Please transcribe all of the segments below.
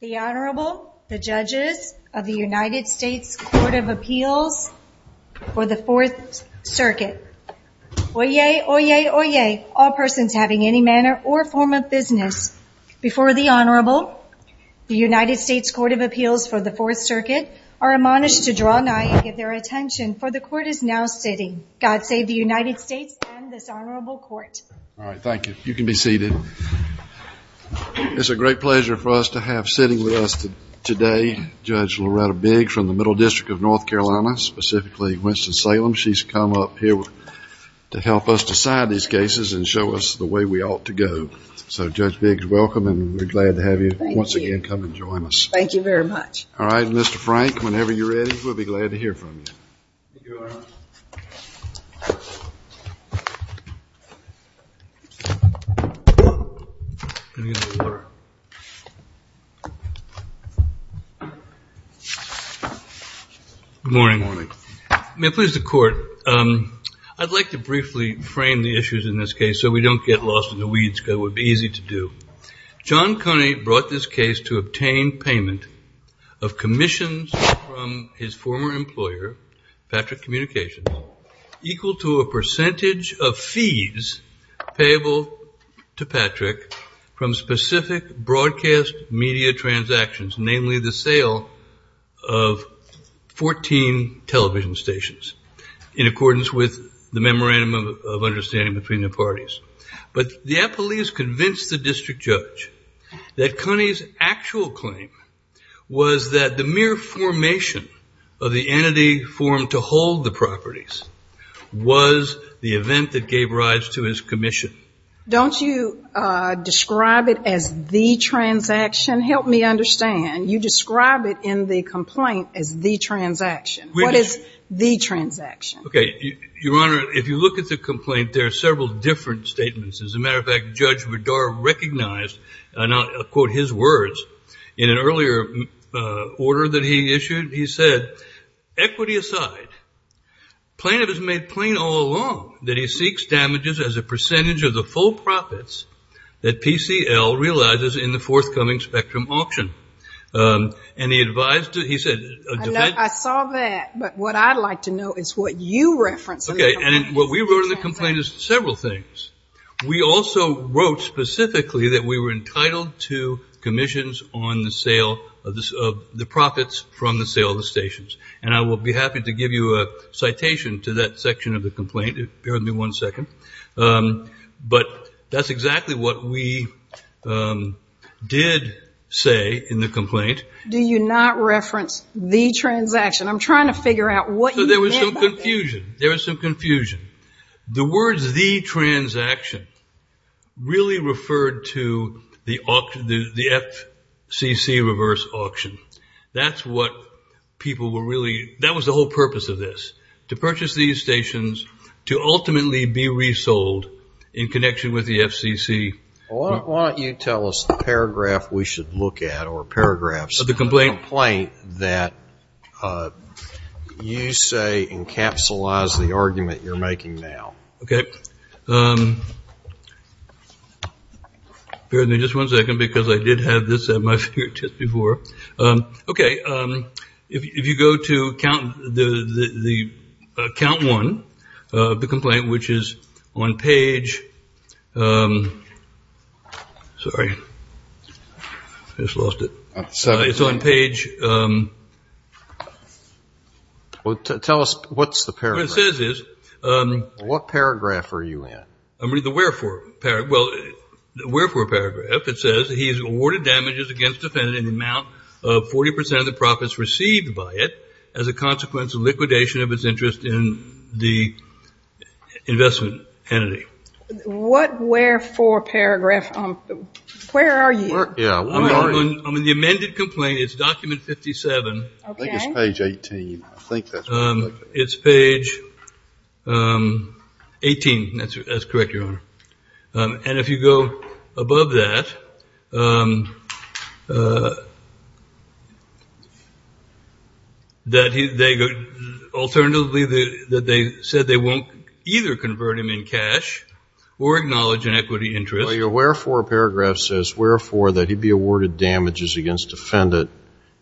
The Honorable, the Judges of the United States Court of Appeals for the Fourth Circuit. Oyez! Oyez! Oyez! All persons having any manner or form of business before the Honorable, the United States Court of Appeals for the Fourth Circuit, are admonished to draw nigh and give their attention, for the Court is now sitting. God save the United States and this Honorable Court. All right, thank you. You can be seated. It's a great pleasure for us to have sitting with us today Judge Loretta Bigg from the Middle District of North Carolina, specifically Winston-Salem. She's come up here to help us decide these cases and show us the way we ought to go. So Judge Bigg, welcome, and we're glad to have you once again come and join us. Thank you very much. All right, and Mr. Frank, whenever you're ready, we'll be glad to hear from you. Thank you, Your Honor. Good morning, morning. May it please the Court, I'd like to briefly frame the issues in this case so we don't get lost in the weeds, because it would be easy to do. John Coney brought this case to obtain payment of commissions from his former employer, Patrick Communications, equal to a percentage of fees payable to Patrick from specific broadcast media transactions, namely the sale of 14 television stations, in accordance with the memorandum of understanding between the parties. But the appellees convinced the district judge that Coney's actual claim was that the mere formation of the entity formed to hold the properties was the event that gave rise to his commission. Don't you describe it as the transaction? Help me understand. You describe it in the complaint as the transaction. What is the transaction? Okay, Your Honor, if you look at the complaint, there are several different statements. As a matter of fact, Judge Bedard recognized, and I'll quote his words, in an earlier order that he issued, he said, equity aside, plaintiff has made plain all along that he seeks damages as a percentage of the full profits that PCL realizes in the forthcoming spectrum auction. And he advised, he said. I saw that. But what I'd like to know is what you reference. Okay, and what we wrote in the complaint is several things. We also wrote specifically that we were entitled to commissions on the sale of the profits from the sale of the stations. And I will be happy to give you a citation to that section of the complaint. Bear with me one second. But that's exactly what we did say in the complaint. Do you not reference the transaction? I'm trying to figure out what you meant by that. There was some confusion. There was some confusion. The words the transaction really referred to the FCC reverse auction. That's what people were really, that was the whole purpose of this. To purchase these stations to ultimately be resold in connection with the FCC. Why don't you tell us the paragraph we should look at or paragraphs of the complaint that you say encapsulates the argument you're making now. Okay. Bear with me just one second because I did have this at my fingertips before. Okay. If you go to count one of the complaint, which is on page, sorry, I just lost it. It's on page. Tell us what's the paragraph. What it says is. What paragraph are you in? The wherefore paragraph. Wherefore paragraph. It says he's awarded damages against the defendant in the amount of 40% of the profits received by it as a consequence of liquidation of his interest in the investment entity. What wherefore paragraph? Where are you? I'm in the amended complaint. It's document 57. I think it's page 18. It's page 18. That's correct, Your Honor. And if you go above that, alternatively, they said they won't either convert him in cash or acknowledge an equity interest. Well, your wherefore paragraph says wherefore that he be awarded damages against defendant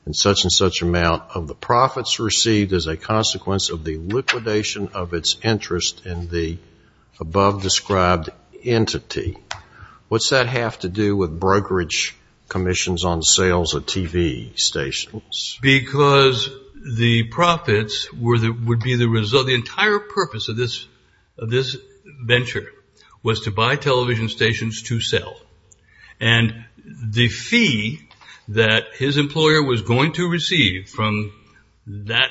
in such and such amount of the profits received as a consequence of the liquidation of its interest in the above described entity. What's that have to do with brokerage commissions on sales of TV stations? Because the profits would be the result. The entire purpose of this venture was to buy television stations to sell. And the fee that his employer was going to receive from that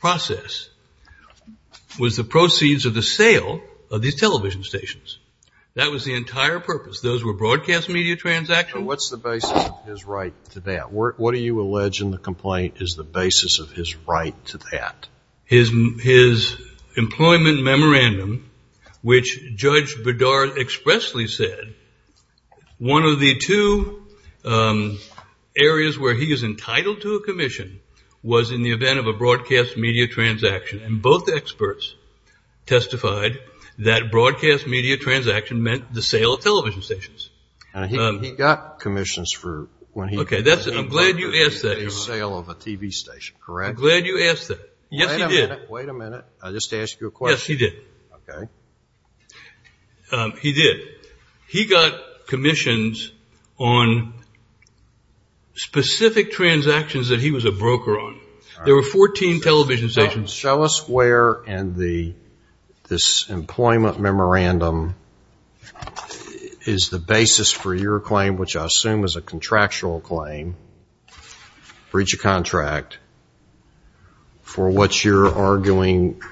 process was the proceeds of the sale of these television stations. That was the entire purpose. Those were broadcast media transactions. What's the basis of his right to that? What do you allege in the complaint is the basis of his right to that? His employment memorandum, which Judge Bedard expressly said, one of the two areas where he is entitled to a commission was in the event of a broadcast media transaction. And both experts testified that broadcast media transaction meant the sale of television stations. He got commissions for when he- Okay, that's it. I'm glad you asked that. The sale of a TV station, correct? I'm glad you asked that. Yes, he did. Wait a minute. I just asked you a question. Yes, he did. Okay. He did. He got commissions on specific transactions that he was a broker on. There were 14 television stations. Show us where in this employment memorandum is the basis for your claim, which I assume is a contractual claim, breach of contract, for what you're arguing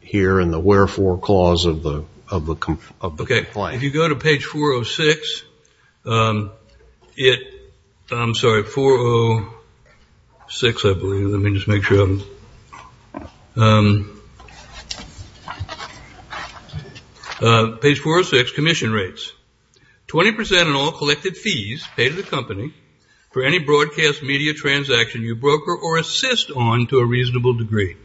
here in the wherefore clause of the complaint. If you go to page 406, it- I'm sorry, 406, I believe. Let me just make sure. Page 406, commission rates. 20% in all collected fees paid to the company for any broadcast media transaction you broker or assist on to a reasonable degree.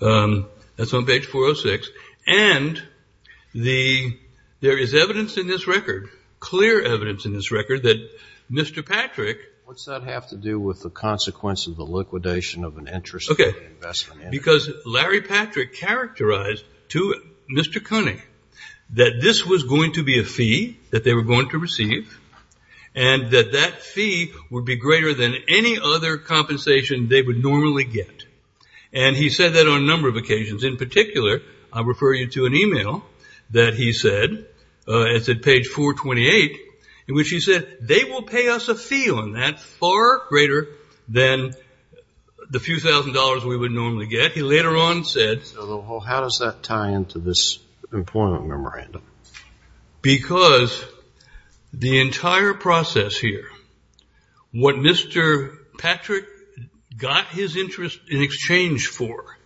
That's on page 406. And there is evidence in this record, clear evidence in this record, that Mr. Patrick- What's that have to do with the consequence of the liquidation of an interest- Okay. Because Larry Patrick characterized to Mr. Koenig that this was going to be a fee that they were going to receive and that that fee would be greater than any other compensation they would normally get. And he said that on a number of occasions. In particular, I refer you to an email that he said, it's at page 428, in which he said, they will pay us a fee on that far greater than the few thousand dollars we would normally get. He later on said- How does that tie into this employment memorandum? Because the entire process here, what Mr. Patrick got his interest in exchange for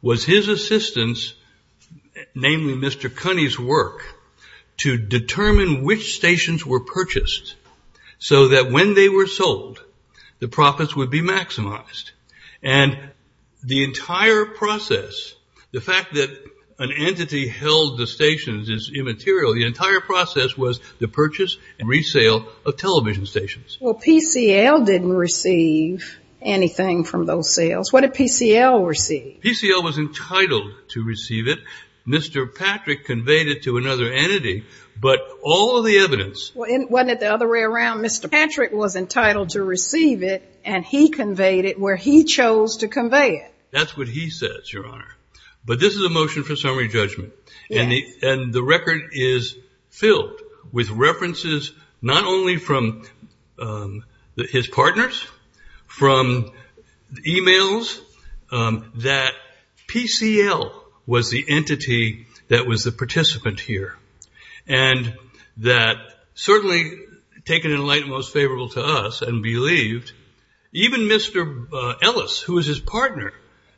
was his assistance, namely Mr. Koenig's work, to determine which stations were purchased. So that when they were sold, the profits would be maximized. And the entire process, the fact that an entity held the stations is immaterial. The entire process was the purchase and resale of television stations. Well, PCL didn't receive anything from those sales. What did PCL receive? PCL was entitled to receive it. Mr. Patrick conveyed it to another entity. But all of the evidence- Wasn't it the other way around? Mr. Patrick was entitled to receive it, and he conveyed it where he chose to convey it. That's what he says, Your Honor. But this is a motion for summary judgment. And the record is filled with references, not only from his partners, from emails, that PCL was the entity that was the participant here. And that certainly taken in light and most favorable to us and believed, even Mr. Ellis, who is his partner,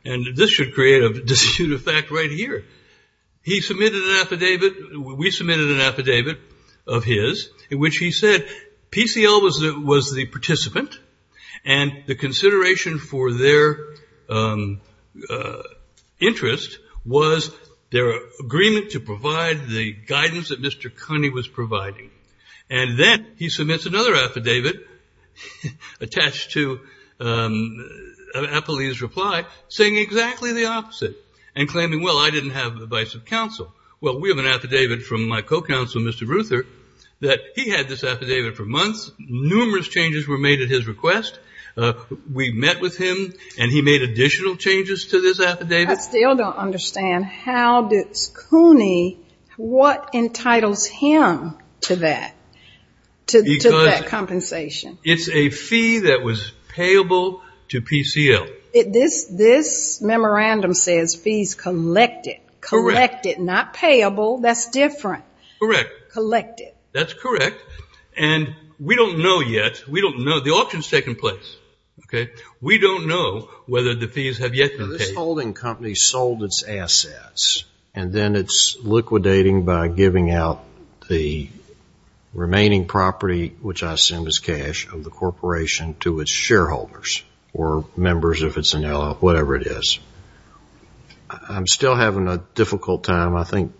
and this should create a dispute of fact right here. He submitted an affidavit. We submitted an affidavit of his in which he said PCL was the participant. And the consideration for their interest was their agreement to provide the guidance that Mr. Connie was providing. And then he submits another affidavit attached to Apolline's reply, saying exactly the opposite. And claiming, well, I didn't have the advice of counsel. Well, we have an affidavit from my co-counsel, Mr. Ruther, that he had this affidavit for months. Numerous changes were made at his request. We met with him, and he made additional changes to this affidavit. I still don't understand how does Connie, what entitles him to that, to that compensation? It's a fee that was payable to PCL. This memorandum says fees collected. Correct. Collected, not payable. That's different. Correct. Collected. That's correct. And we don't know yet. We don't know. The auction's taking place. Okay? We don't know whether the fees have yet been paid. Now, this holding company sold its assets, and then it's liquidating by giving out the remaining property, which I assume is cash, of the corporation to its shareholders or members, if it's an LL, whatever it is. I'm still having a difficult time. I think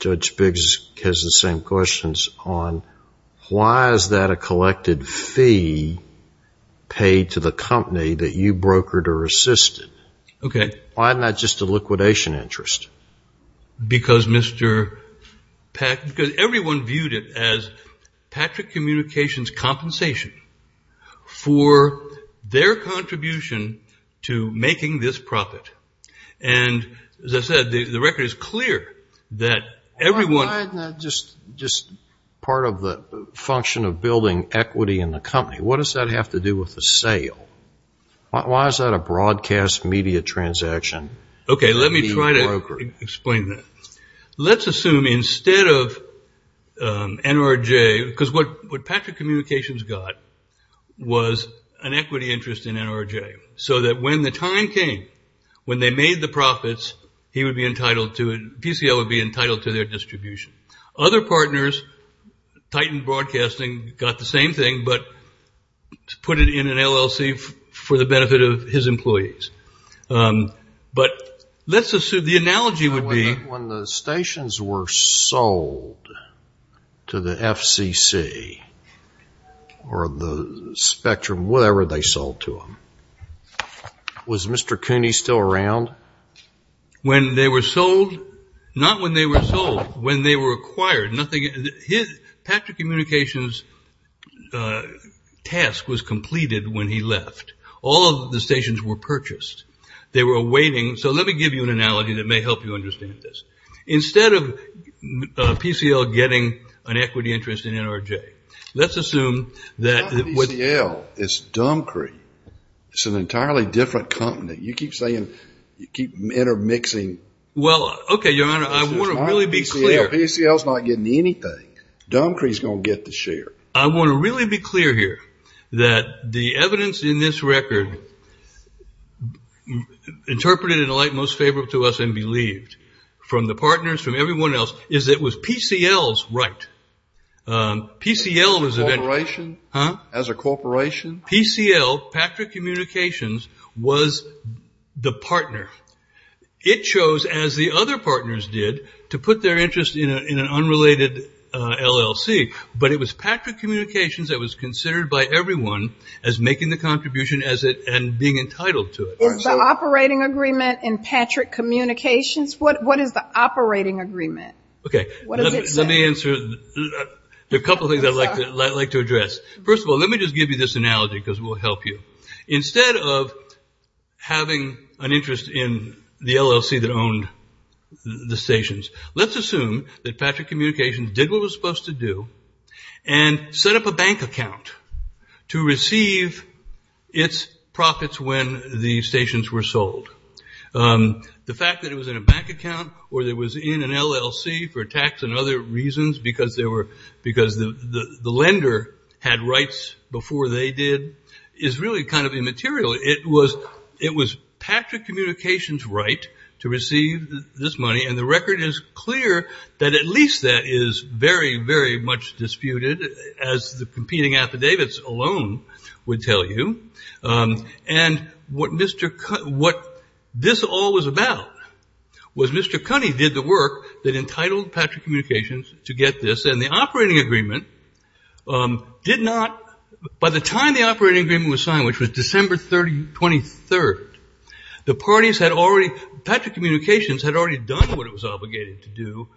Judge Biggs has the same questions on why is that a collected fee paid to the company that you brokered or assisted? Okay. Why not just a liquidation interest? Because Mr. Pack, because everyone viewed it as Patrick Communications' compensation for their contribution to making this profit. And, as I said, the record is clear that everyone- Why isn't that just part of the function of building equity in the company? What does that have to do with the sale? Why is that a broadcast media transaction? Okay, let me try to explain that. Let's assume instead of NRJ, because what Patrick Communications got was an equity interest in NRJ, so that when the time came, when they made the profits, PCL would be entitled to their distribution. Other partners, Titan Broadcasting got the same thing, but put it in an LLC for the benefit of his employees. But let's assume the analogy would be- Was Mr. Cooney still around? When they were sold? Not when they were sold, when they were acquired. Patrick Communications' task was completed when he left. All of the stations were purchased. They were awaiting- so let me give you an analogy that may help you understand this. Instead of PCL getting an equity interest in NRJ, let's assume that- No, it's Dumcree. It's an entirely different company. You keep saying, you keep intermixing- Well, okay, Your Honor, I want to really be clear- PCL's not getting anything. Dumcree's going to get the share. I want to really be clear here that the evidence in this record, interpreted in the light most favorable to us and believed from the partners, from everyone else, is that it was PCL's right. PCL was- As a corporation? Huh? As a corporation? PCL, Patrick Communications, was the partner. It chose, as the other partners did, to put their interest in an unrelated LLC. But it was Patrick Communications that was considered by everyone as making the contribution and being entitled to it. Is the operating agreement in Patrick Communications? What is the operating agreement? Okay. What does it say? Let me answer a couple of things I'd like to address. First of all, let me just give you this analogy because it will help you. Instead of having an interest in the LLC that owned the stations, let's assume that Patrick Communications did what it was supposed to do and set up a bank account to receive its profits when the stations were sold. The fact that it was in a bank account or it was in an LLC for tax and other reasons because the lender had rights before they did is really kind of immaterial. It was Patrick Communications' right to receive this money, and the record is clear that at least that is very, very much disputed, as the competing affidavits alone would tell you. And what this all was about was Mr. Cunney did the work that entitled Patrick Communications to get this, and the operating agreement did not, by the time the operating agreement was signed, which was December 23rd, the parties had already, Patrick Communications had already done what it was obligated to do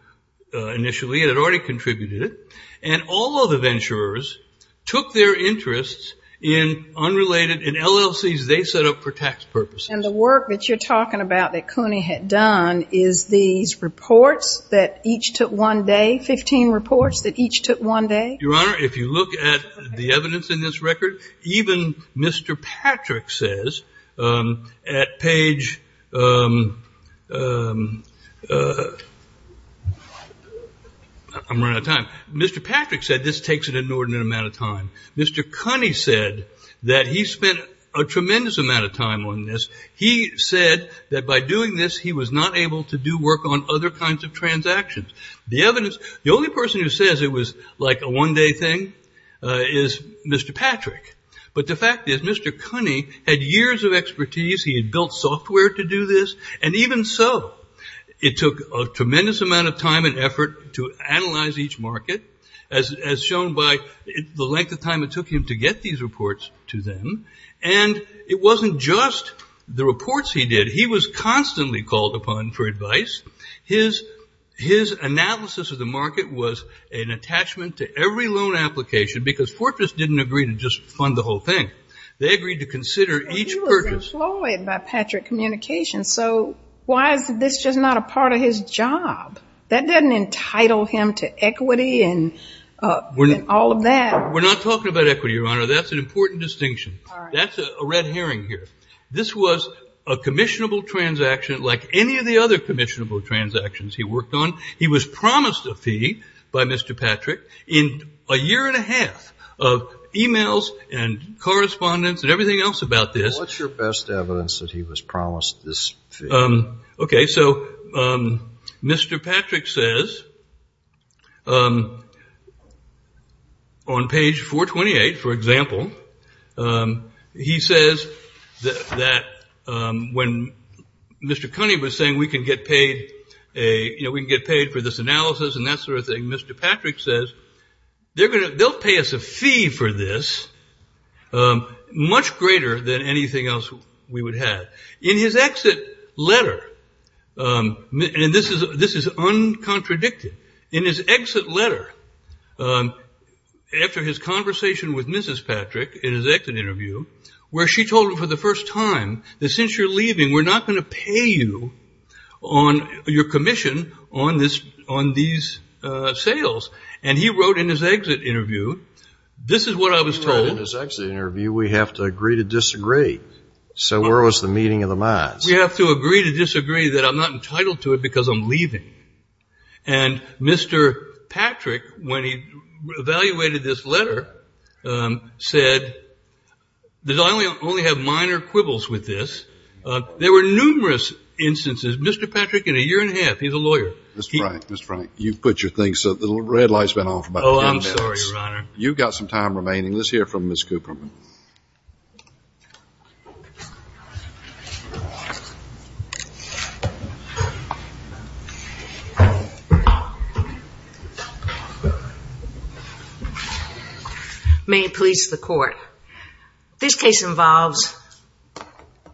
initially and had already contributed it, and all of the venturers took their interests in unrelated, in LLCs they set up for tax purposes. And the work that you're talking about that Cunney had done is these reports that each took one day, 15 reports that each took one day? Your Honor, if you look at the evidence in this record, even Mr. Patrick says at page, I'm running out of time. Mr. Patrick said this takes an inordinate amount of time. Mr. Cunney said that he spent a tremendous amount of time on this. He said that by doing this he was not able to do work on other kinds of transactions. The evidence, the only person who says it was like a one-day thing is Mr. Patrick. But the fact is Mr. Cunney had years of expertise. He had built software to do this. And even so, it took a tremendous amount of time and effort to analyze each market, as shown by the length of time it took him to get these reports to them. And it wasn't just the reports he did. He was constantly called upon for advice. His analysis of the market was an attachment to every loan application because Fortress didn't agree to just fund the whole thing. They agreed to consider each purchase. He was employed by Patrick Communications. So why is this just not a part of his job? That doesn't entitle him to equity and all of that. We're not talking about equity, Your Honor. That's an important distinction. That's a red herring here. This was a commissionable transaction like any of the other commissionable transactions he worked on. He was promised a fee by Mr. Patrick in a year and a half of emails and correspondence and everything else about this. What's your best evidence that he was promised this fee? Okay, so Mr. Patrick says on page 428, for example, he says that when Mr. Cunningham was saying we can get paid for this analysis and that sort of thing, Mr. Patrick says they'll pay us a fee for this much greater than anything else we would have. In his exit letter, and this is uncontradicted, in his exit letter after his conversation with Mrs. Patrick in his exit interview, where she told him for the first time that since you're leaving, we're not going to pay you on your commission on these sales. And he wrote in his exit interview, this is what I was told. In his exit interview, we have to agree to disagree. So where was the meeting of the minds? We have to agree to disagree that I'm not entitled to it because I'm leaving. And Mr. Patrick, when he evaluated this letter, said that I only have minor quibbles with this. There were numerous instances. Mr. Patrick, in a year and a half, he's a lawyer. Mr. Frank, Mr. Frank, you've put your things up. The red light's been off about ten minutes. Oh, I'm sorry, Your Honor. You've got some time remaining. Let's hear from Ms. Cooperman. May it please the Court. This case involves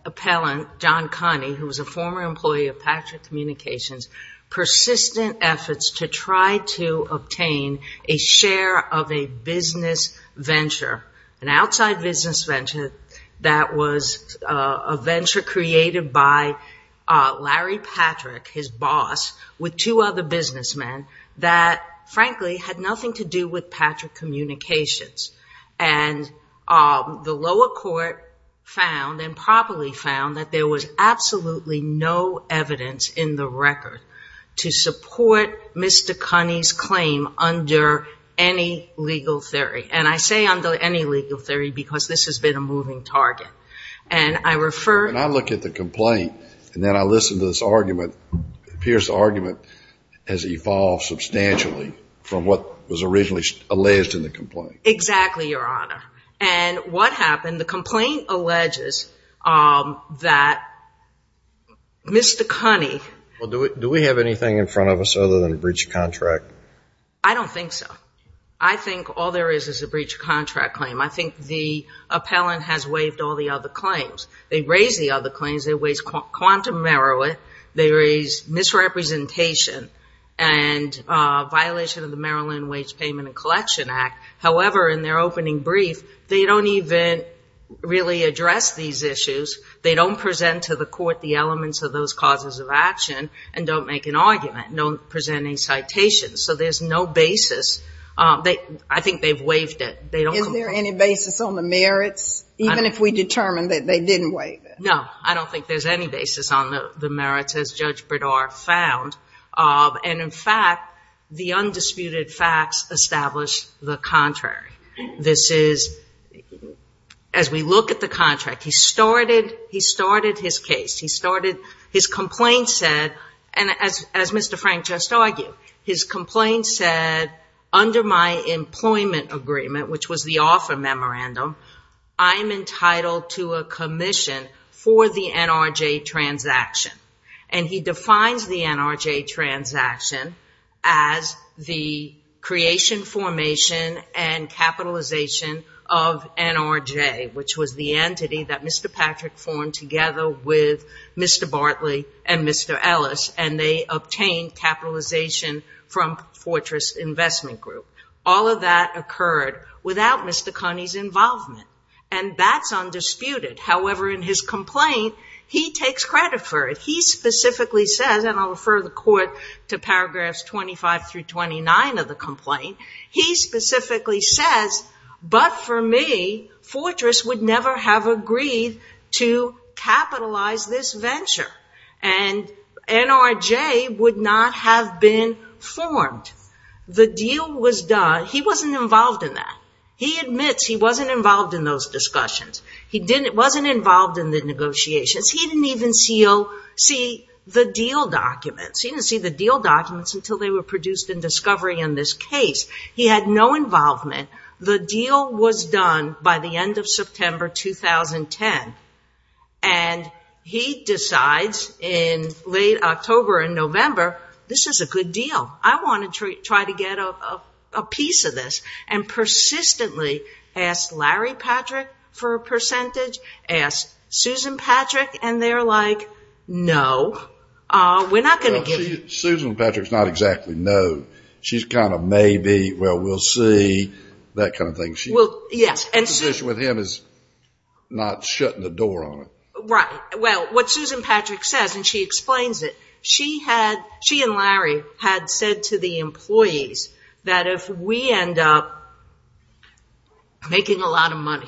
appellant John Connie, who was a former employee of Patrick Communications, persistent efforts to try to obtain a share of a business venture, an outside business venture that was a venture created by Larry Patrick, his boss, with two other businessmen that, frankly, had nothing to do with Patrick Communications. And the lower court found and properly found that there was absolutely no evidence in the record to support Mr. Connie's claim under any legal theory. And I say under any legal theory because this has been a moving target. And I refer to the complaint. And then I listen to this argument. It appears the argument has evolved substantially from what was originally alleged in the complaint. Exactly, Your Honor. And what happened? The complaint alleges that Mr. Connie. Well, do we have anything in front of us other than a breach of contract? I don't think so. I think all there is is a breach of contract claim. I think the appellant has waived all the other claims. They raised the other claims. They raised quantum merit. They raised misrepresentation and violation of the Maryland Wage Payment and Collection Act. However, in their opening brief, they don't even really address these issues. They don't present to the court the elements of those causes of action and don't make an argument, no presenting citations. So there's no basis. I think they've waived it. Is there any basis on the merits, even if we determine that they didn't waive it? No. I don't think there's any basis on the merits, as Judge Bredar found. And, in fact, the undisputed facts establish the contrary. This is, as we look at the contract, he started his case. His complaint said, and as Mr. Frank just argued, his complaint said, under my employment agreement, which was the offer memorandum, I'm entitled to a commission for the NRJ transaction. And he defines the NRJ transaction as the creation, formation, and capitalization of NRJ, which was the entity that Mr. Patrick formed together with Mr. Bartley and Mr. Ellis, and they obtained capitalization from Fortress Investment Group. All of that occurred without Mr. Cunney's involvement, and that's undisputed. However, in his complaint, he takes credit for it. He specifically says, and I'll refer the court to paragraphs 25 through 29 of the complaint, he specifically says, but for me, Fortress would never have agreed to capitalize this venture, and NRJ would not have been formed. The deal was done. He wasn't involved in that. He admits he wasn't involved in those discussions. He wasn't involved in the negotiations. He didn't even see the deal documents. He didn't see the deal documents until they were produced in discovery in this case. He had no involvement. The deal was done by the end of September 2010, and he decides in late October and November, this is a good deal. I want to try to get a piece of this, and persistently asked Larry Patrick for a percentage, asked Susan Patrick, and they're like, no, we're not going to give it. Susan Patrick's not exactly no. She's kind of maybe, well, we'll see, that kind of thing. Her position with him is not shutting the door on it. Right. Well, what Susan Patrick says, and she explains it, she and Larry had said to the employees that if we end up making a lot of money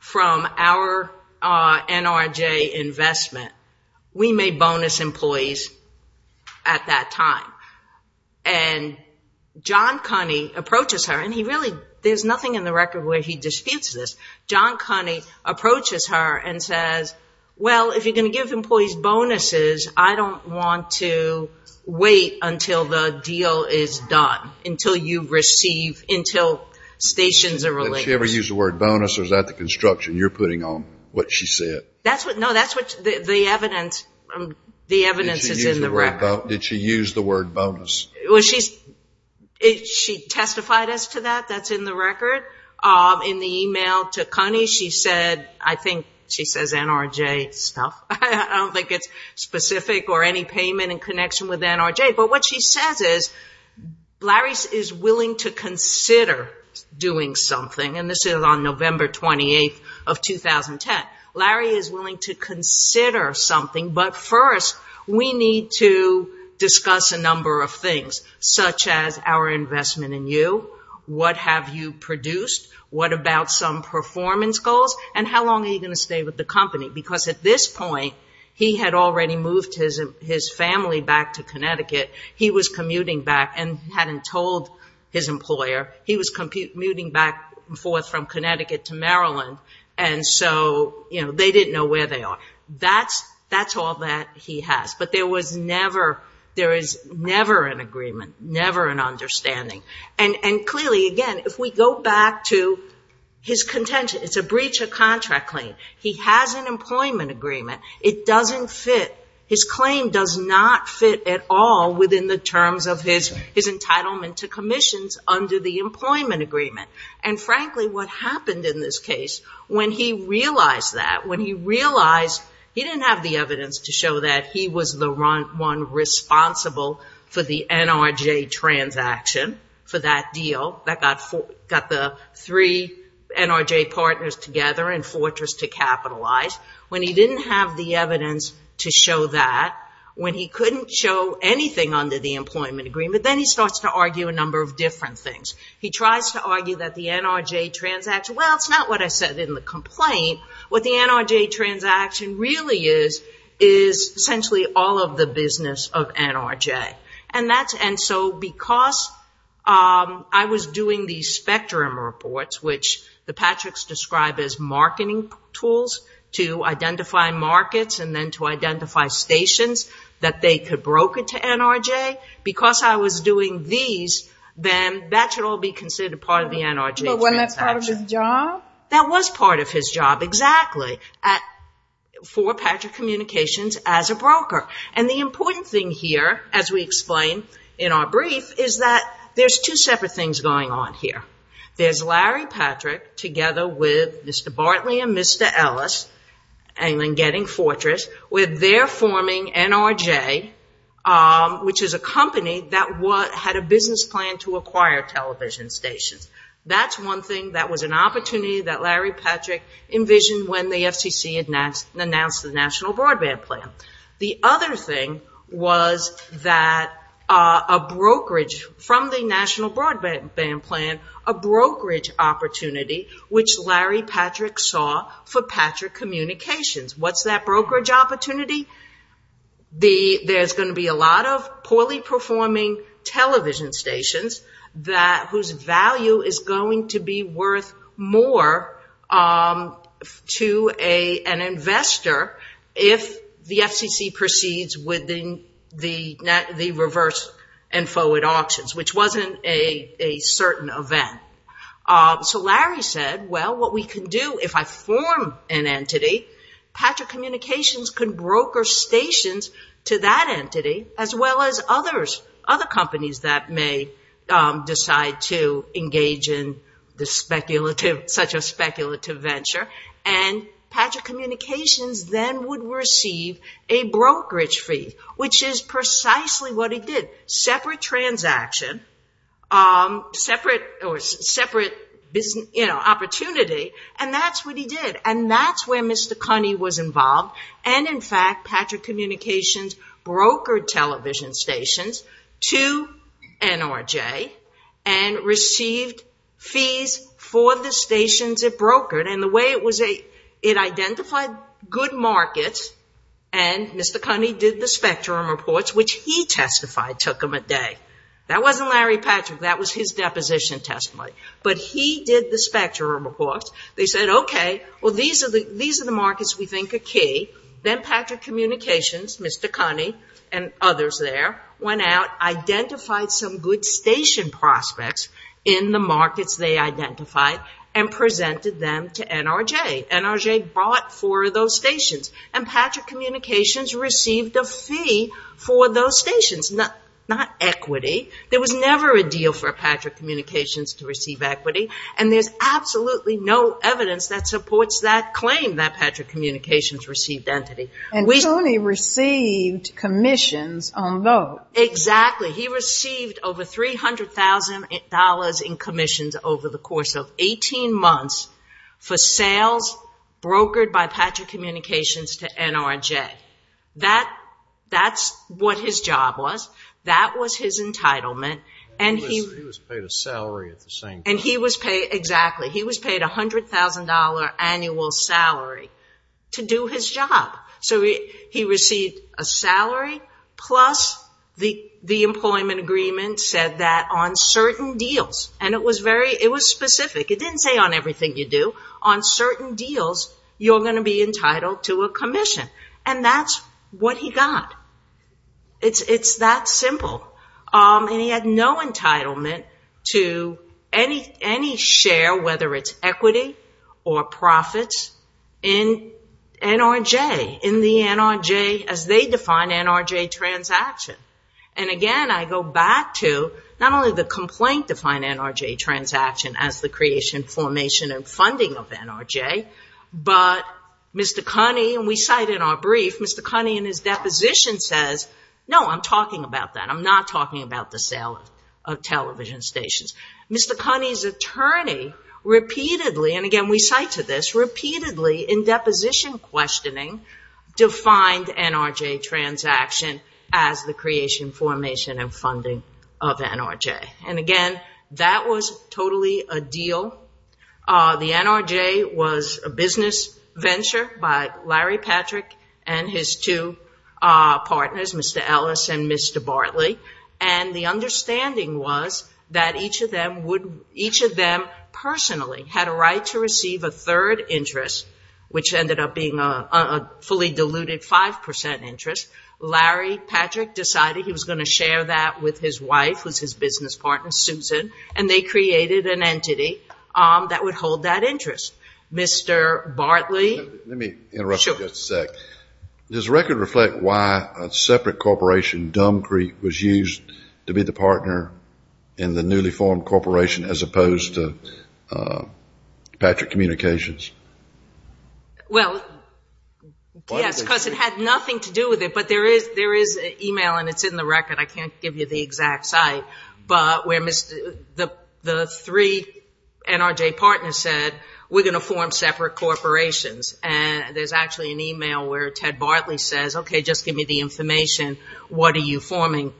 from our NRJ investment, we may bonus employees at that time, and John Cunney approaches her, and he really, there's nothing in the record where he disputes this. John Cunney approaches her and says, well, if you're going to give employees bonuses, I don't want to wait until the deal is done, until you receive, until stations are related. Did she ever use the word bonus, or is that the construction you're putting on, what she said? No, that's what the evidence is in the record. Did she use the word bonus? She testified as to that. That's in the record. In the email to Cunney, she said, I think she says NRJ stuff. I don't think it's specific or any payment in connection with NRJ, but what she says is Larry is willing to consider doing something, and this is on November 28th of 2010. Larry is willing to consider something, but first we need to discuss a number of things, such as our investment in you, what have you produced, what about some performance goals, and how long are you going to stay with the company, because at this point he had already moved his family back to Connecticut. He was commuting back and hadn't told his employer. They didn't know where they are. That's all that he has, but there is never an agreement, never an understanding, and clearly, again, if we go back to his contention, it's a breach of contract claim. He has an employment agreement. It doesn't fit. His claim does not fit at all within the terms of his entitlement to commissions under the employment agreement, and frankly what happened in this case when he realized that, when he realized he didn't have the evidence to show that he was the one responsible for the NRJ transaction for that deal that got the three NRJ partners together and Fortress to capitalize. When he didn't have the evidence to show that, when he couldn't show anything under the employment agreement, then he starts to argue a number of different things. He tries to argue that the NRJ transaction, well, it's not what I said in the complaint. What the NRJ transaction really is is essentially all of the business of NRJ. And so because I was doing these spectrum reports, which the Patricks describe as marketing tools to identify markets and then to identify stations that they could broker to NRJ, because I was doing these, then that should all be considered part of the NRJ transaction. But wasn't that part of his job? That was part of his job, exactly, for Patrick Communications as a broker. And the important thing here, as we explain in our brief, is that there's two separate things going on here. There's Larry Patrick together with Mr. Bartley and Mr. Ellis, getting Fortress, with their forming NRJ, which is a company that had a business plan to acquire television stations. That's one thing that was an opportunity that Larry Patrick envisioned when the FCC announced the National Broadband Plan. The other thing was that a brokerage from the National Broadband Plan, a brokerage opportunity, which Larry Patrick saw for Patrick Communications. What's that brokerage opportunity? There's going to be a lot of poorly performing television stations whose value is going to be worth more to an investor if the FCC proceeds with the reverse and forward auctions, which wasn't a certain event. So Larry said, well, what we can do if I form an entity, Patrick Communications could broker stations to that entity as well as other companies that may decide to engage in such a speculative venture. And Patrick Communications then would receive a brokerage fee, which is precisely what he did. Separate transaction, separate opportunity, and that's what he did. And that's where Mr. Cunney was involved. And in fact, Patrick Communications brokered television stations to NRJ and received fees for the stations it brokered. It identified good markets, and Mr. Cunney did the spectrum reports, which he testified took him a day. That wasn't Larry Patrick. That was his deposition testimony. But he did the spectrum reports. They said, okay, well, these are the markets we think are key. Then Patrick Communications, Mr. Cunney, and others there, went out, identified some good station prospects in the markets they identified, and presented them to NRJ. NRJ bought four of those stations. And Patrick Communications received a fee for those stations, not equity. There was never a deal for Patrick Communications to receive equity, and there's absolutely no evidence that supports that claim, that Patrick Communications received entity. And Tony received commissions on those. Exactly. He received over $300,000 in commissions over the course of 18 months for sales brokered by Patrick Communications to NRJ. That's what his job was. That was his entitlement. He was paid a salary at the same time. Exactly. He was paid a $100,000 annual salary to do his job. So he received a salary, plus the employment agreement said that on certain deals, and it was specific. It didn't say on everything you do. On certain deals, you're going to be entitled to a commission. And that's what he got. It's that simple. And he had no entitlement to any share, whether it's equity or profits, in NRJ, in the NRJ as they define NRJ transaction. And, again, I go back to not only the complaint-defined NRJ transaction as the creation, formation, and funding of NRJ, but Mr. Cunney, and we cite in our brief, Mr. Cunney in his deposition says, no, I'm talking about that. I'm not talking about the sale of television stations. Mr. Cunney's attorney repeatedly, and, again, we cite to this, repeatedly in deposition questioning defined NRJ transaction as the creation, formation, and funding of NRJ. And, again, that was totally a deal. The NRJ was a business venture by Larry Patrick and his two partners, Mr. Ellis and Mr. Bartley. And the understanding was that each of them personally had a right to receive a third interest, which ended up being a fully diluted 5% interest. Larry Patrick decided he was going to share that with his wife, who's his business partner, Susan, and they created an entity that would hold that interest. Mr. Bartley. Let me interrupt you just a sec. Does the record reflect why a separate corporation, Dumb Creek, was used to be the partner in the newly formed corporation as opposed to Patrick Communications? Well, yes, because it had nothing to do with it. But there is an email, and it's in the record. I can't give you the exact site. But the three NRJ partners said, we're going to form separate corporations. And there's actually an email where Ted Bartley says, okay, just give me the information. What are you forming?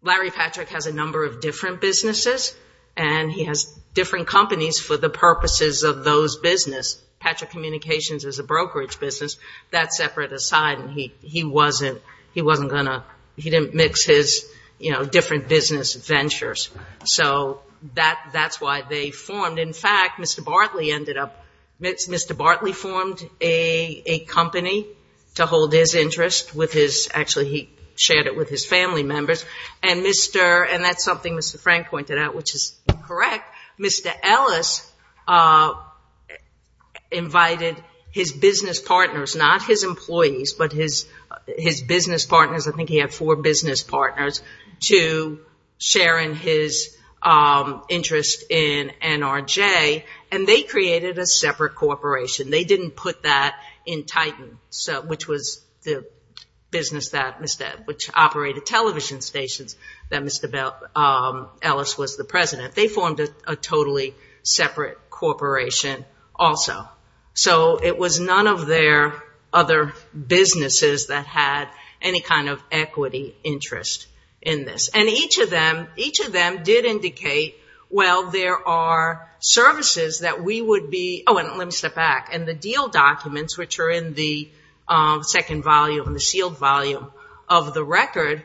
Larry Patrick has a number of different businesses, and he has different companies for the purposes of those businesses. Patrick Communications is a brokerage business. That's separate aside. He didn't mix his different business ventures. So that's why they formed. But, in fact, Mr. Bartley formed a company to hold his interest. Actually, he shared it with his family members. And that's something Mr. Frank pointed out, which is correct. Mr. Ellis invited his business partners, not his employees, but his business partners, I think he had four business partners, to share in his interest in NRJ. And they created a separate corporation. They didn't put that in Titan, which operated television stations that Mr. Ellis was the president. They formed a totally separate corporation also. So it was none of their other businesses that had any kind of equity interest in this. And each of them did indicate, well, there are services that we would be. Oh, and let me step back. In the deal documents, which are in the second volume, in the sealed volume of the record,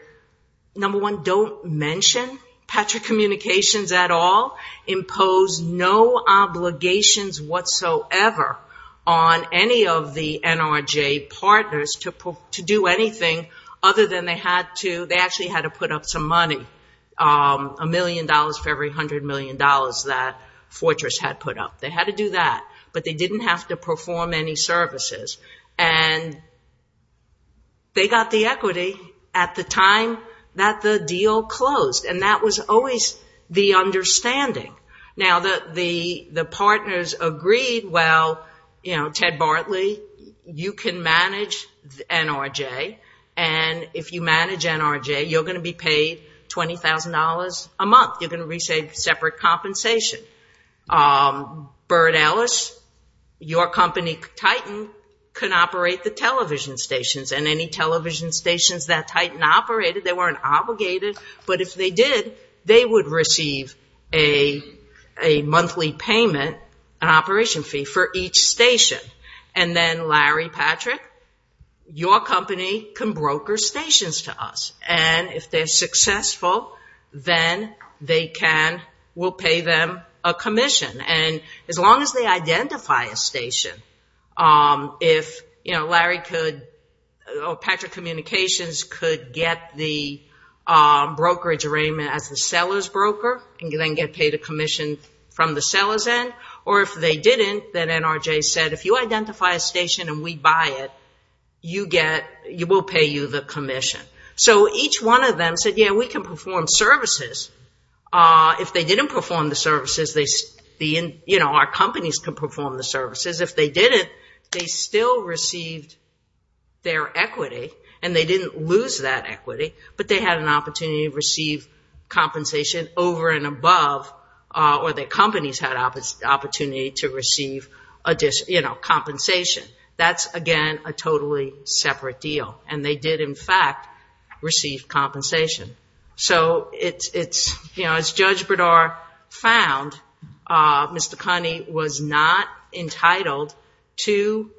number one, don't mention Patrick Communications at all. They imposed no obligations whatsoever on any of the NRJ partners to do anything other than they actually had to put up some money, $1 million for every $100 million that Fortress had put up. They had to do that. But they didn't have to perform any services. And they got the equity at the time that the deal closed. And that was always the understanding. Now, the partners agreed, well, Ted Bartley, you can manage NRJ. And if you manage NRJ, you're going to be paid $20,000 a month. You're going to receive separate compensation. Bert Ellis, your company, Titan, can operate the television stations. And any television stations that Titan operated, they weren't obligated. But if they did, they would receive a monthly payment, an operation fee, for each station. And then Larry Patrick, your company, can broker stations to us. And if they're successful, then we'll pay them a commission. And as long as they identify a station, if Larry could, or Patrick Communications could get the brokerage arraignment as the seller's broker and then get paid a commission from the seller's end. Or if they didn't, then NRJ said, if you identify a station and we buy it, we'll pay you the commission. So each one of them said, yeah, we can perform services. If they didn't perform the services, our companies can perform the services. If they didn't, they still received their equity, and they didn't lose that equity, but they had an opportunity to receive compensation over and above, or their companies had the opportunity to receive compensation. That's, again, a totally separate deal. And they did, in fact, receive compensation. So it's, you know, as Judge Bredar found, Mr. Connie was not entitled to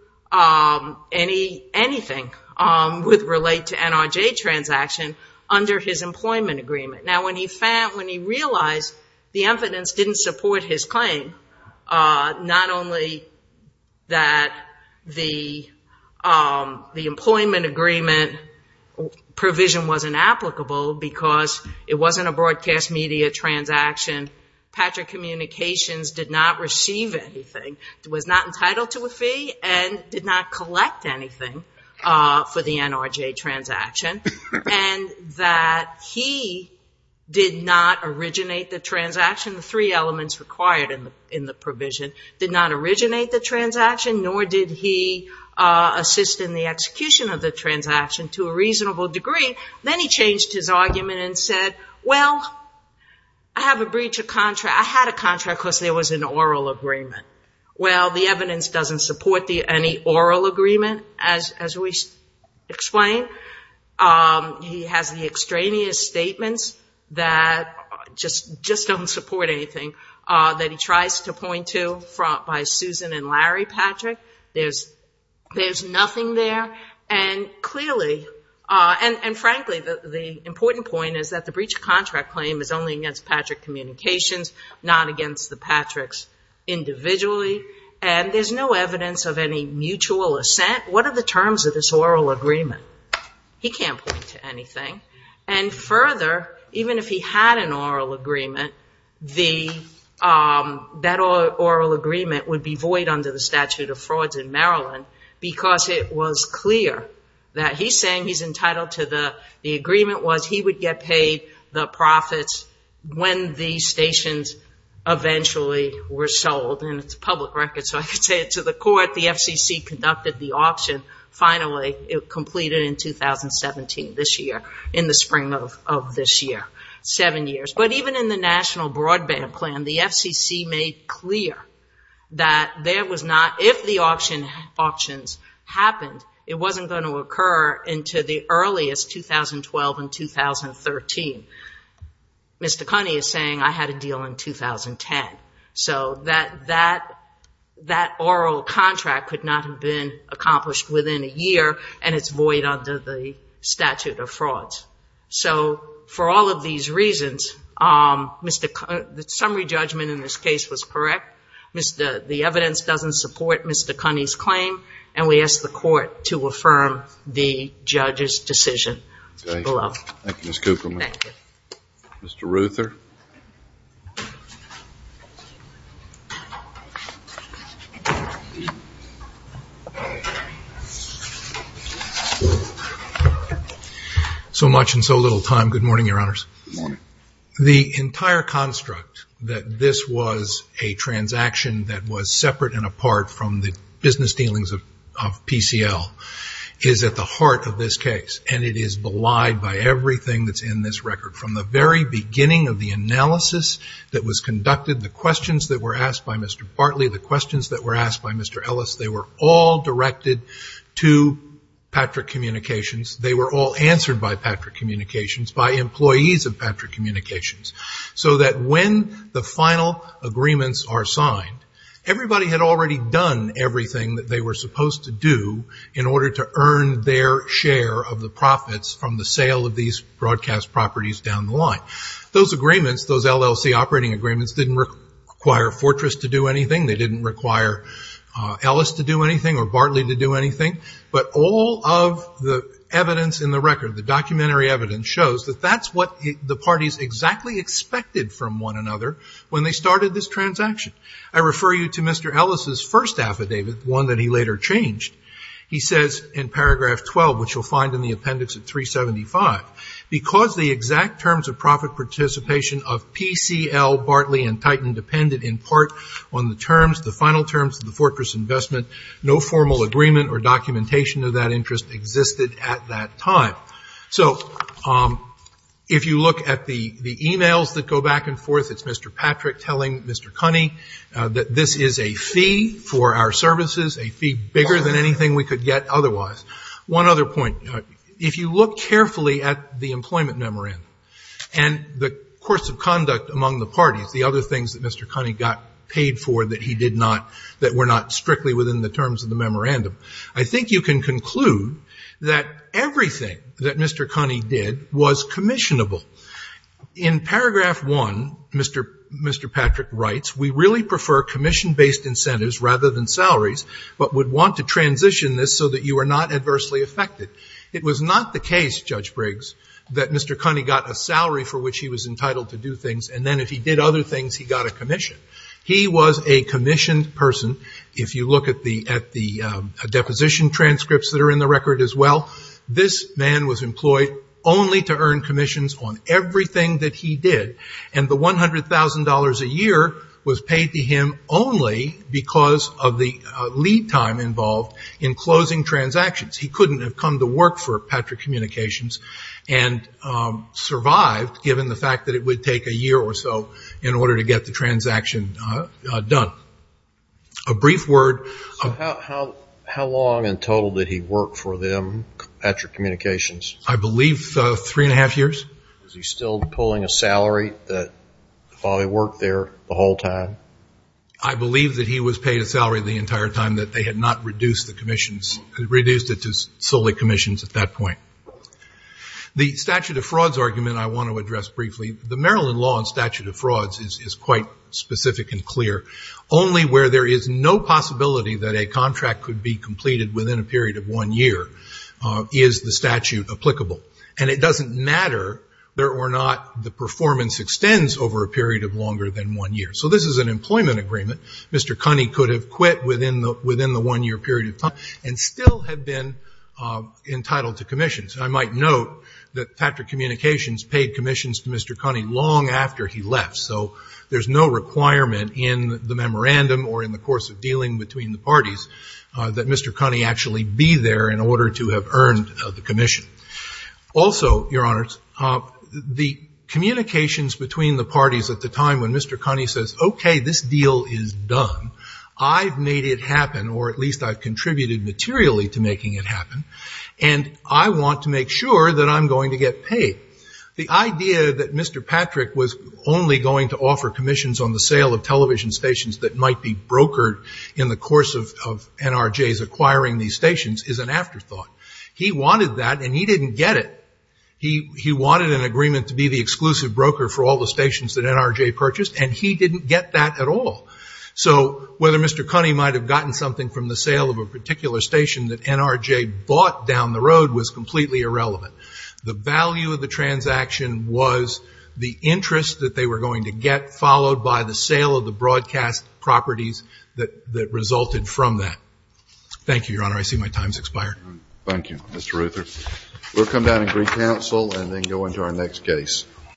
anything with relate to NRJ transaction under his employment agreement. Now, when he realized the evidence didn't support his claim, not only that the employment agreement provision wasn't applicable, because it wasn't a broadcast media transaction, Patrick Communications did not receive anything, was not entitled to a fee, and did not collect anything for the NRJ transaction, and that he did not originate the transaction, the three elements required in the provision, did not originate the transaction, nor did he assist in the execution of the transaction to a reasonable degree. Then he changed his argument and said, well, I have a breach of contract. I had a contract because there was an oral agreement. Well, the evidence doesn't support any oral agreement, as we explained. He has the extraneous statements that just don't support anything that he tries to point to by Susan and Larry Patrick. There's nothing there. And frankly, the important point is that the breach of contract claim is only against Patrick Communications, not against the Patricks individually, and there's no evidence of any mutual assent. What are the terms of this oral agreement? He can't point to anything. And further, even if he had an oral agreement, that oral agreement would be void under the statute of frauds in Maryland, because it was clear that he's saying he's entitled to the… the agreement was he would get paid the profits when the stations eventually were sold, and it's a public record, so I could say to the court, the FCC conducted the auction. Finally, it completed in 2017, this year, in the spring of this year, seven years. But even in the National Broadband Plan, the FCC made clear that there was not… if the auctions happened, it wasn't going to occur into the earliest 2012 and 2013. Mr. Cunney is saying I had a deal in 2010. So that oral contract could not have been accomplished within a year, and it's void under the statute of frauds. So for all of these reasons, the summary judgment in this case was correct. The evidence doesn't support Mr. Cunney's claim, and we ask the court to affirm the judge's decision. Thank you, Ms. Kupferman. Thank you. Mr. Ruther. So much and so little time. Good morning, Your Honors. Good morning. The entire construct that this was a transaction that was separate and apart from the business dealings of PCL is at the heart of this case, and it is belied by everything that's in this record. From the very beginning of the analysis that was conducted, the questions that were asked by Mr. Bartley, the questions that were asked by Mr. Ellis, they were all directed to Patrick Communications. They were all answered by Patrick Communications, by employees of Patrick Communications, so that when the final agreements are signed, everybody had already done everything that they were supposed to do in order to earn their share of the profits from the sale of these broadcast properties down the line. Those agreements, those LLC operating agreements, didn't require Fortress to do anything. They didn't require Ellis to do anything or Bartley to do anything, but all of the evidence in the record, the documentary evidence, shows that that's what the parties exactly expected from one another when they started this transaction. I refer you to Mr. Ellis' first affidavit, one that he later changed. He says in paragraph 12, which you'll find in the appendix at 375, because the exact terms of profit participation of PCL, Bartley and Titan depended in part on the terms, the final terms of the Fortress investment, no formal agreement or documentation of that interest existed at that time. So if you look at the e-mails that go back and forth, it's Mr. Patrick telling Mr. Cunney that this is a fee for our services, a fee bigger than anything we could get otherwise. One other point. If you look carefully at the employment memorandum and the course of conduct among the parties, the other things that Mr. Cunney got paid for that he did not, that were not strictly within the terms of the memorandum, I think you can conclude that everything that Mr. Cunney did was commissionable. In paragraph 1, Mr. Patrick writes, we really prefer commission-based incentives rather than salaries, but would want to transition this so that you are not adversely affected. It was not the case, Judge Briggs, that Mr. Cunney got a salary for which he was entitled to do things, and then if he did other things, he got a commission. He was a commissioned person. If you look at the deposition transcripts that are in the record as well, this man was employed only to earn commissions on everything that he did, and the $100,000 a year was paid to him only because of the lead time involved in closing transactions. He couldn't have come to work for Patrick Communications and survived given the fact that it would take a year or so in order to get the transaction done. A brief word. So how long in total did he work for them, Patrick Communications? I believe three and a half years. Is he still pulling a salary while he worked there the whole time? I believe that he was paid a salary the entire time, that they had not reduced it to solely commissions at that point. The statute of frauds argument I want to address briefly. The Maryland law and statute of frauds is quite specific and clear. Only where there is no possibility that a contract could be completed within a period of one year is the statute applicable. And it doesn't matter whether or not the performance extends over a period of longer than one year. So this is an employment agreement. Mr. Cunney could have quit within the one-year period of time and still have been entitled to commissions. I might note that Patrick Communications paid commissions to Mr. Cunney long after he left, so there's no requirement in the memorandum or in the course of dealing between the parties that Mr. Cunney actually be there in order to have earned the commission. Also, Your Honors, the communications between the parties at the time when Mr. Cunney says, okay, this deal is done, I've made it happen, or at least I've contributed materially to making it happen, and I want to make sure that I'm going to get paid. The idea that Mr. Patrick was only going to offer commissions on the sale of television stations that might be brokered in the course of NRJ's acquiring these stations is an afterthought. He wanted that, and he didn't get it. He wanted an agreement to be the exclusive broker for all the stations that NRJ purchased, and he didn't get that at all. So whether Mr. Cunney might have gotten something from the sale of a particular station that NRJ bought down the road was completely irrelevant. The value of the transaction was the interest that they were going to get, followed by the sale of the broadcast properties that resulted from that. Thank you, Your Honor. I see my time has expired. Thank you, Mr. Ruther. We'll come down and recounsel and then go into our next case.